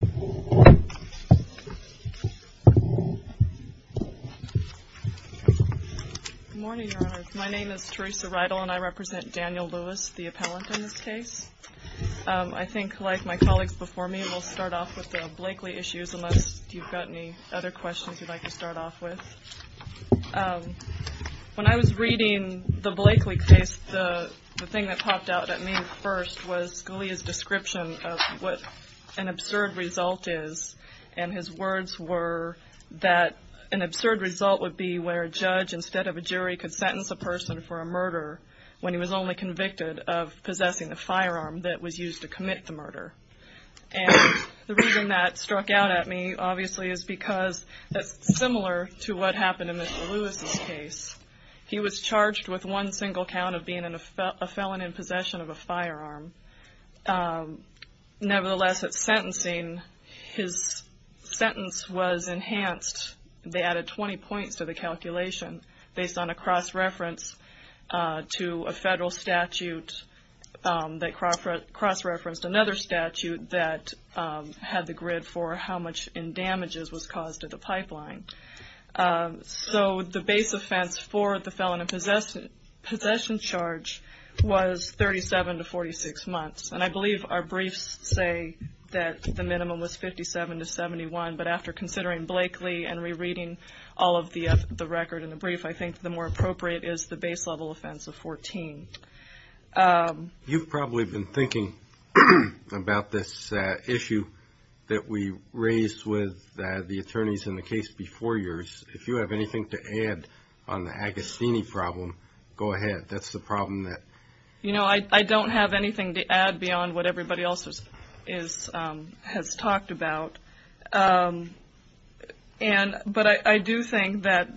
Good morning, Your Honor. My name is Teresa Riedel and I represent Daniel Lewis, the appellant in this case. I think, like my colleagues before me, we'll start off with the Blakely issues unless you've got any other questions you'd like to start off with. When I was reading the Blakely case, the thing that popped out at me first was Scalia's description of what an absurd result is and his words were that an absurd result would be where a judge instead of a jury could sentence a person for a murder when he was only convicted of possessing a firearm that was used to commit the murder. And the reason that struck out at me obviously is because that's similar to what happened in Mr. Lewis's case. He was charged with one sentencing. His sentence was enhanced. They added 20 points to the calculation based on a cross-reference to a federal statute that cross-referenced another statute that had the grid for how much in damages was caused to the pipeline. So the base offense for the minimum was 57 to 71, but after considering Blakely and rereading all of the record in the brief, I think the more appropriate is the base level offense of 14. You've probably been thinking about this issue that we raised with the attorneys in the case before yours. If you have anything to add on the Agostini problem, go ahead. That's the problem that... You know, I don't have anything to add beyond what everybody else has talked about. But I do think that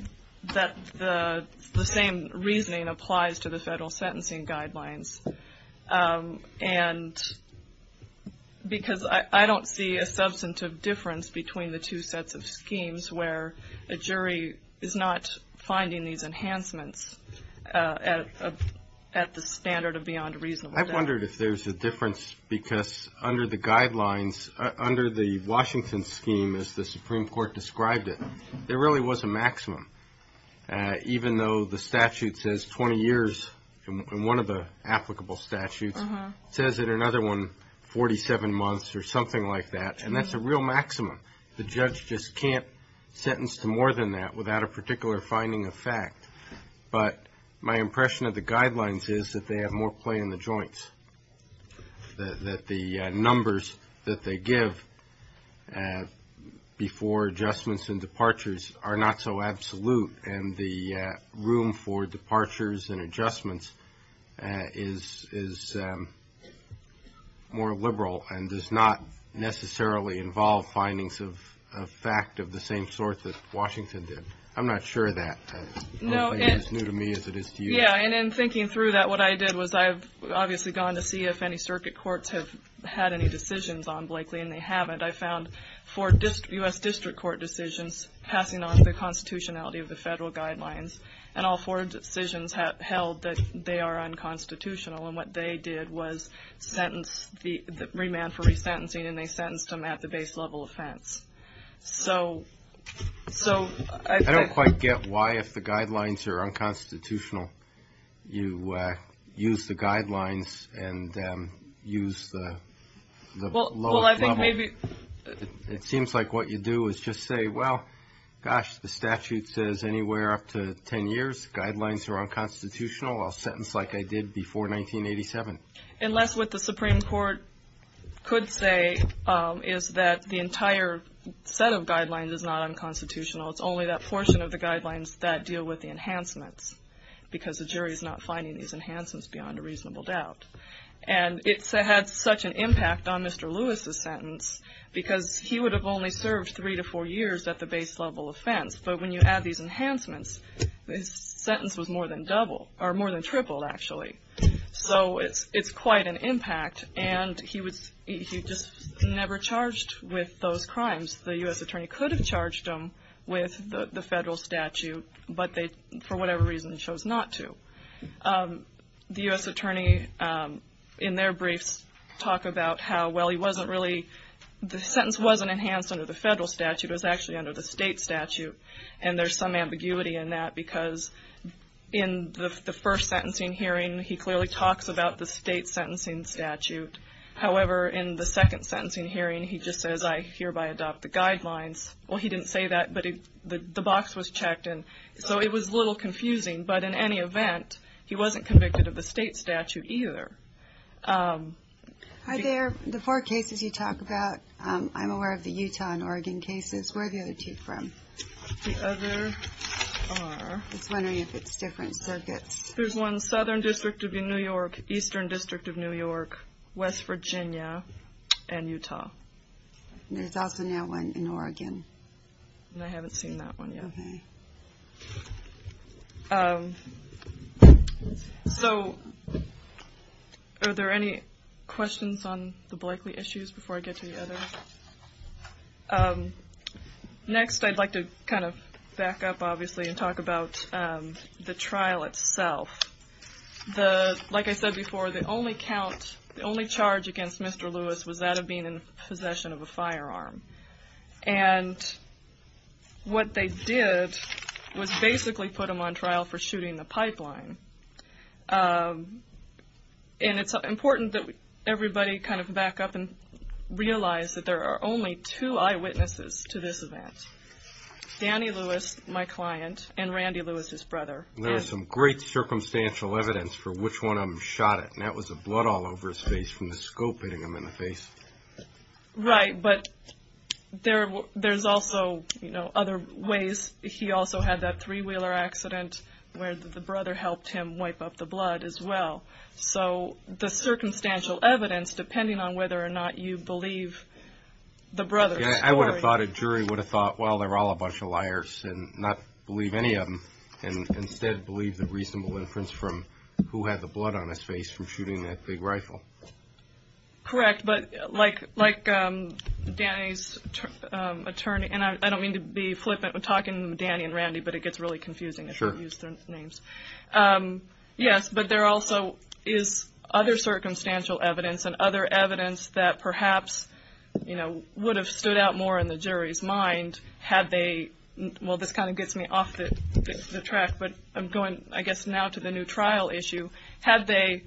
the same reasoning applies to the federal sentencing guidelines. And because I don't see a substantive difference between the two sets of schemes where a jury is not finding these enhancements at the standard of beyond reasonable... I wondered if there's a difference because under the guidelines, under the Washington scheme as the Supreme Court described it, there really was a maximum. Even though the statute says 20 years in one of the applicable statutes, it says in another one 47 months or something like that. And that's a real maximum. The judge just can't sentence to more than that without a particular finding of fact. But my impression of the guidelines is that they have more play in the joints, that the numbers that they give before adjustments and departures are not so absolute. And the room for departures and adjustments is more liberal and does not necessarily involve findings of fact of the same sort that Washington did. I'm not sure that plays as new to me as it is to you. Yeah. And in thinking through that, what I did was I've obviously gone to see if any circuit courts have had any decisions on Blakely, and they haven't. I found four U.S. District Court decisions passing on the constitutionality of the federal guidelines. And all four decisions held that they are unconstitutional. And what they did was sentence the remand for resentencing, and they sentenced him at the base level offense. So I think... I don't quite get why, if the guidelines are unconstitutional, you use the guidelines and use the lowest level. Well, I think maybe... It seems like what you do is just say, well, gosh, the statute says anywhere up to 10 years, guidelines are unconstitutional. I'll sentence like I did before 1987. Unless what the Supreme Court could say is that the entire set of guidelines is not unconstitutional. It's only that portion of the guidelines that deal with the enhancements, because the jury is not finding these enhancements beyond a reasonable doubt. And it had such an impact on Mr. Lewis's sentence, because he would have only served three to four years at the base level offense. But when you add these enhancements, his sentence was more than double, or more than tripled, actually. So it's quite an impact. And he just never charged with those crimes. The U.S. attorney could have charged him with the federal statute, but they, for whatever reason, chose not to. The U.S. attorney, in their briefs, talk about how, well, he wasn't really... The sentence wasn't enhanced under the federal statute. It was actually under the state statute. And there's some ambiguity in that, because in the first sentencing hearing, he clearly talks about the state sentencing statute. However, in the second sentencing hearing, he just says, I hereby adopt the guidelines. Well, he didn't say that, but the box was checked, and so it was a little confusing. But in any event, he wasn't convicted of the state statute either. Hi there. The four cases you talk about, I'm aware of the Utah and Oregon cases. Where are the other two from? The other are... I was wondering if it's different circuits. There's one Southern District of New York, Eastern District of New York, West Virginia, and Utah. And there's also now one in Oregon. And I haven't seen that one yet. Okay. So, are there any questions on the Blakely issues before I get to the others? Next, I'd like to kind of back up, obviously, and talk about the trial itself. Like I said before, the only charge against Mr. Lewis was that of being in possession of a firearm. And what they did was basically put him on trial for shooting the pipeline. And it's important that everybody kind of back up and realize that there are only two eyewitnesses to this event. Danny Lewis, my client, and Randy Lewis, his brother. There's some great circumstantial evidence for which one of them shot it, and that was the blood all over his face from the scope hitting him in the face. Right, but there's also other ways. He also had that three-wheeler accident where the brother helped him wipe up the blood as well. So, the circumstantial evidence, depending on whether or not you believe the brother's story. I would have thought a jury would have thought, well, they're all a bunch of liars and not believe any of them, and instead believe the reasonable inference from who had the blood on his face from shooting that big rifle. Correct, but like Danny's attorney, and I don't mean to be flippant when talking to Danny and Randy, but it gets really confusing if you use their names. Sure. Yes, but there also is other circumstantial evidence and other evidence that perhaps would have stood out more in the jury's mind had they, well, this kind of gets me off the track, but I'm going, I guess, now to the new trial issue. Had they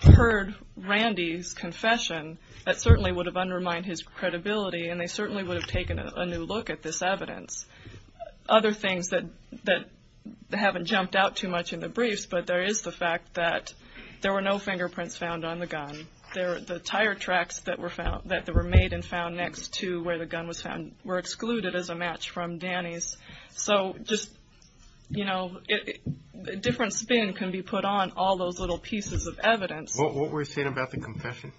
heard Randy's confession, that certainly would have undermined his credibility, and they certainly would have taken a new look at this evidence. Other things that haven't jumped out too much in the briefs, but there is the fact that there were no fingerprints found on the gun. The tire tracks that were made and found next to where the gun was found were excluded as a match from Danny's. So just, you know, a different spin can be put on all those little pieces of evidence. What were you saying about the confession?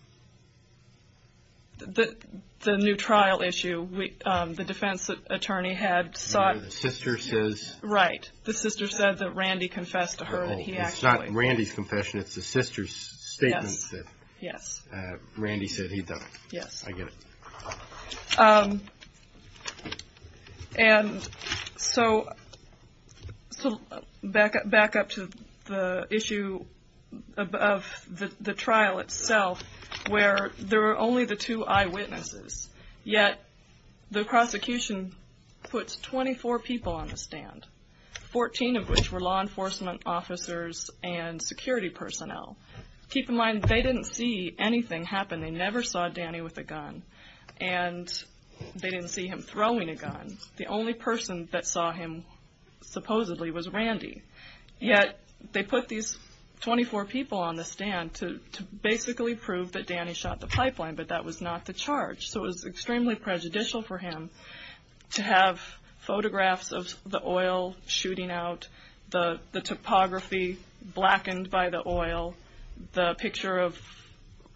The new trial issue, the defense attorney had sought... The sister says... Right, the sister said that Randy confessed to her that he actually... Oh, it's not Randy's confession, it's the sister's statement that Randy said he'd done it. Yes. I get it. And so, back up to the issue of the trial itself, where there are only the two eyewitnesses, yet the prosecution puts 24 people on the stand, 14 of which were law enforcement officers and security personnel. Keep in mind, they didn't see anything happen, they never saw Danny with a gun, and they didn't see him throwing a gun. The only person that saw him supposedly was Randy. Yet, they put these 24 people on the stand to basically prove that Danny shot the pipeline, but that was not the charge. So it was extremely prejudicial for him to have photographs of the oil shooting out, the topography blackened by the oil, the picture of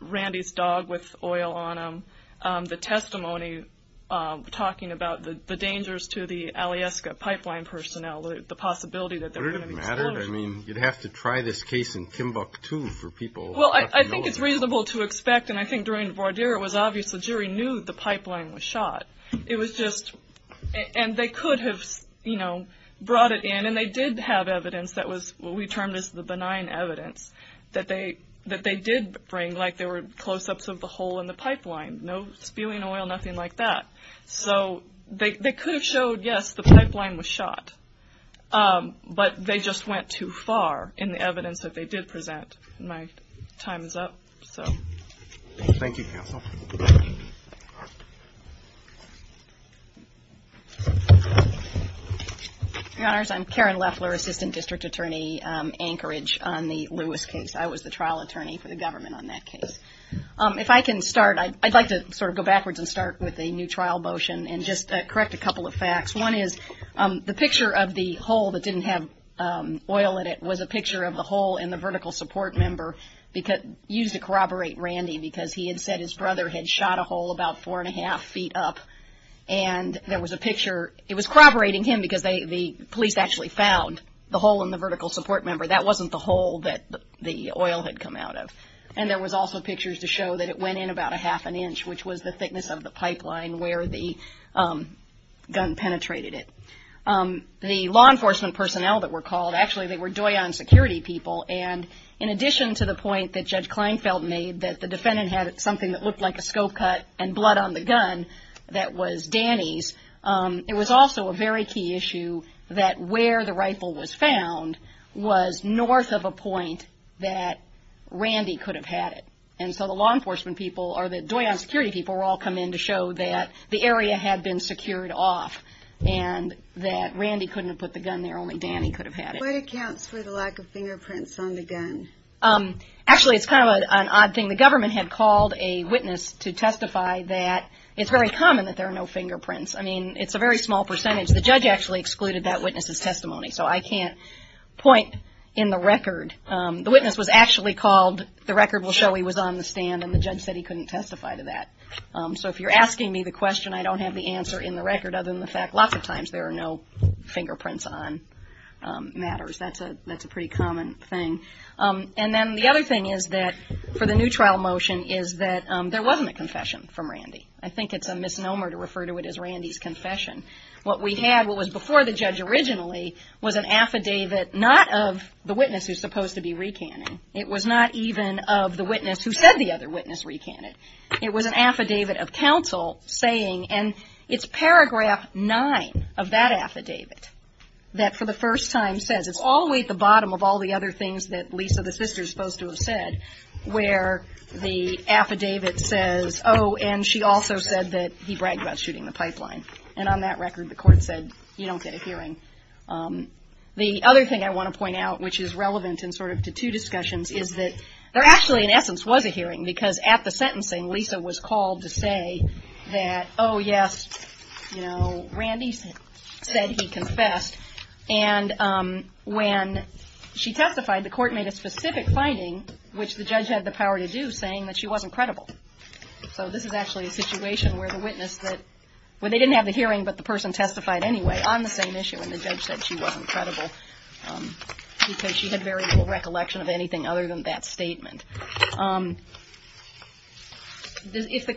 Randy's dog with oil on him, the testimony talking about the dangers to the Alyeska Pipeline personnel, the possibility that they were going to be exposed. Would it have mattered? I mean, you'd have to try this case in Kimbuk, too, for people... Well, I think it's reasonable to expect, and I think during the voir dire, it was obvious the jury knew the pipeline was shot. It was just... And they could have brought it in, and they did have evidence that was what we termed as the benign evidence that they did bring, like there were close-ups of the hole in the pipeline. No spewing oil, nothing like that. So they could have showed, yes, the pipeline was shot, but they just went too far in the evidence that they did present. My time is up, so... Thank you, counsel. Your Honors, I'm Karen Leffler, Assistant District Attorney, Anchorage, on the Lewis case. I was the trial attorney for the government on that case. If I can start, I'd like to sort of go backwards and start with a new trial motion and just correct a couple of facts. One is the picture of the hole that didn't have oil in it was a picture of the hole in the vertical support member used to corroborate Randy because he had said his brother had shot a hole about four and a half feet up. And there was a picture... It was corroborating him because the police actually found the hole in the vertical support member. That wasn't the hole that the oil had come out of. And there was also pictures to show that it went in about a half an inch, which was the thickness of the pipeline where the gun penetrated it. The law enforcement personnel that were called, actually they were Doyon security people, and in addition to the point that Judge Kleinfeld made that the defendant had something that looked like a scope cut and blood on the gun that was Danny's, it was also a very key issue that where the rifle was found was north of a point that Randy could have had it. And so the law enforcement people or the Doyon security people were all coming in to show that the area had been secured off and that Randy couldn't have put the gun there, only Danny could have had it. What accounts for the lack of fingerprints on the gun? Actually, it's kind of an odd thing. The government had called a witness to testify that it's very common that there are no fingerprints. I mean, it's a very small percentage. The judge actually excluded that witness's testimony, so I can't point in the record. The witness was actually called. The record will show he was on the stand, and the judge said he couldn't testify to that. So if you're asking me the question, I don't have the answer in the record other than the fact that lots of times there are no fingerprints on matters. That's a pretty common thing. And then the other thing is that for the new trial motion is that there wasn't a confession from Randy. I think it's a misnomer to refer to it as Randy's confession. What we had, what was before the judge originally, was an affidavit not of the witness who's supposed to be recanting. It was not even of the witness who said the other witness recanted. It was an affidavit of counsel saying, and it's paragraph nine of that affidavit that for the first time says, it's all the way at the bottom of all the other things that Lisa, the sister, is supposed to have said, where the affidavit says, oh, and she also said that he bragged about shooting the pipeline. And on that record, the court said, you don't get a hearing. The other thing I want to point out, which is relevant in sort of to two discussions, is that there actually, in essence, was a hearing. Because at the sentencing, Lisa was called to say that, oh, yes, Randy said he confessed. And when she testified, the court made a specific finding, which the judge had the power to do, saying that she wasn't credible. So this is actually a situation where the witness, where they didn't have the hearing but the person testified anyway on the same issue, and the judge said she wasn't credible because she had very little recollection of anything other than that statement. Does the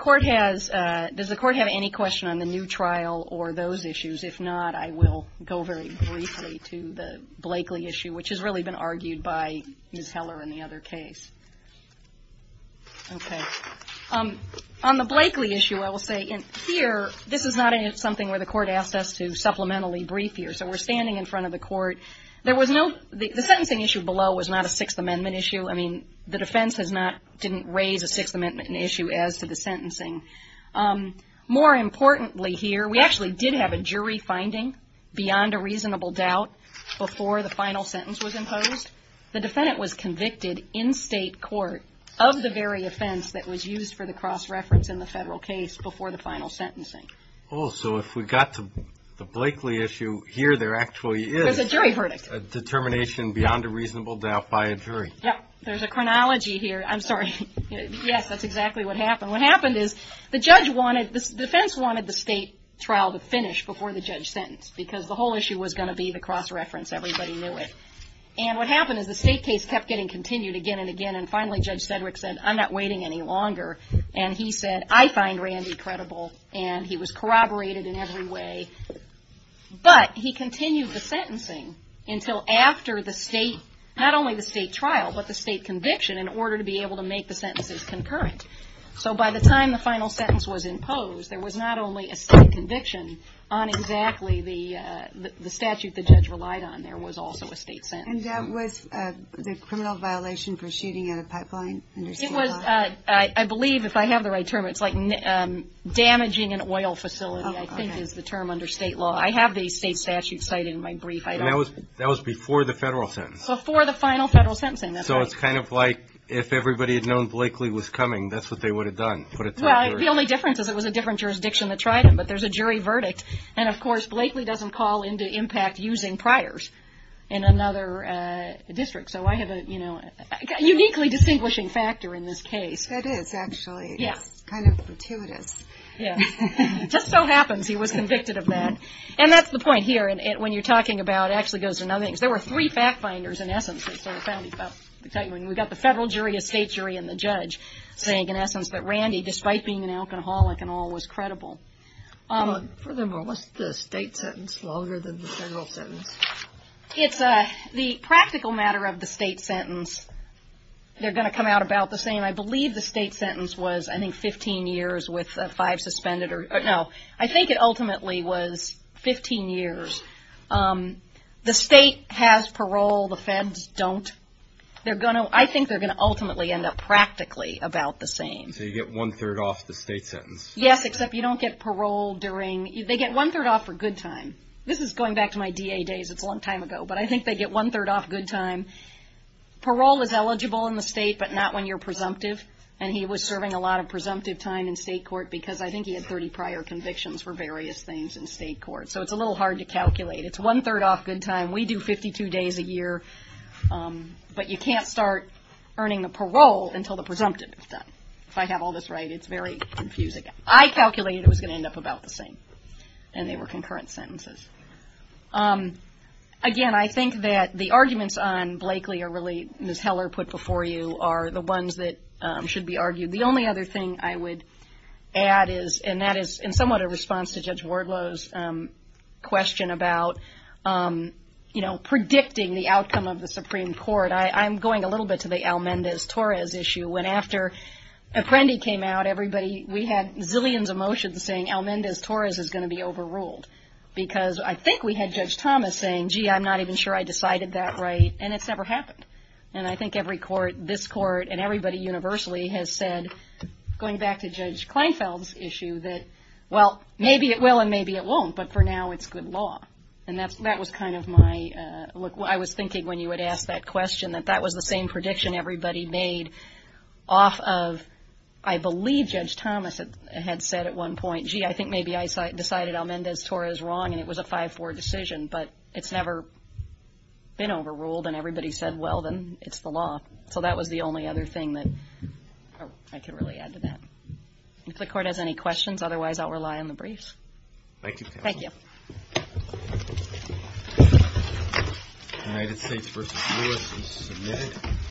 court have any question on the new trial or those issues? If not, I will go very briefly to the Blakeley issue, which has really been argued by Ms. Heller in the other case. Okay. On the Blakeley issue, I will say here, this is not something where the court asked us to supplementally brief here. So we're standing in front of the court. There was no – the sentencing issue below was not a Sixth Amendment issue. I mean, the defense has not – didn't raise a Sixth Amendment issue as to the sentencing. More importantly here, we actually did have a jury finding beyond a reasonable doubt before the final sentence was imposed. The defendant was convicted in state court of the very offense that was used for the cross-reference in the federal case before the final sentencing. Oh, so if we got to the Blakeley issue, here there actually is a determination beyond a reasonable doubt by a jury. Yeah. There's a chronology here. I'm sorry. Yes, that's exactly what happened. What happened is the judge wanted – the defense wanted the state trial to finish before the judge sentenced because the whole issue was going to be the cross-reference. Everybody knew it. And what happened is the state case kept getting continued again and again, and finally Judge Sedgwick said, I'm not waiting any longer. And he said, I find Randy credible, and he was corroborated in every way. But he continued the sentencing until after the state – not only the state trial, but the state conviction in order to be able to make the sentences concurrent. So by the time the final sentence was imposed, there was not only a state conviction on exactly the statute the judge relied on. There was also a state sentence. I believe, if I have the right term, it's like damaging an oil facility, I think is the term under state law. I have the state statute cited in my brief. And that was before the federal sentence? Before the final federal sentencing, that's right. So it's kind of like if everybody had known Blakely was coming, that's what they would have done? Well, the only difference is it was a different jurisdiction that tried him, but there's a jury verdict. And, of course, Blakely doesn't call into impact using priors in another district. So I have a uniquely distinguishing factor in this case. That is, actually. Yeah. It's kind of gratuitous. Yeah. It just so happens he was convicted of that. And that's the point here. When you're talking about – it actually goes to another thing. There were three fact finders, in essence. We've got the federal jury, a state jury, and the judge saying, in essence, that Randy, despite being an alcoholic and all, was credible. Furthermore, what's the state sentence longer than the federal sentence? It's the practical matter of the state sentence. They're going to come out about the same. I believe the state sentence was, I think, 15 years with five suspended. No, I think it ultimately was 15 years. The state has parole. The feds don't. I think they're going to ultimately end up practically about the same. So you get one-third off the state sentence. Yes, except you don't get parole during – they get one-third off for good time. This is going back to my DA days. It's a long time ago. But I think they get one-third off good time. Parole is eligible in the state, but not when you're presumptive. And he was serving a lot of presumptive time in state court because I think he had 30 prior convictions for various things in state court. So it's a little hard to calculate. It's one-third off good time. We do 52 days a year. But you can't start earning the parole until the presumptive is done. If I have all this right, it's very confusing. I calculated it was going to end up about the same. And they were concurrent sentences. Again, I think that the arguments on Blakely are really, as Ms. Heller put before you, are the ones that should be argued. The only other thing I would add is, and that is in somewhat a response to Judge Wardlow's question about, you know, predicting the outcome of the Supreme Court, I'm going a little bit to the Almendez-Torres issue. When after Apprendi came out, everybody, we had zillions of motions saying Almendez-Torres is going to be overruled. Because I think we had Judge Thomas saying, gee, I'm not even sure I decided that right. And it's never happened. And I think every court, this court, and everybody universally has said, going back to Judge Kleinfeld's issue, that, well, maybe it will and maybe it won't, but for now it's good law. And that was kind of my, I was thinking when you had asked that question, that that was the same prediction everybody made off of, I believe Judge Thomas had said at one point, gee, I think maybe I decided Almendez-Torres is wrong, and it was a 5-4 decision, but it's never been overruled, and everybody said, well, then it's the law. So that was the only other thing that I could really add to that. If the court has any questions, otherwise I'll rely on the briefs. Thank you, counsel. Thank you. United States v. Ward was submitted.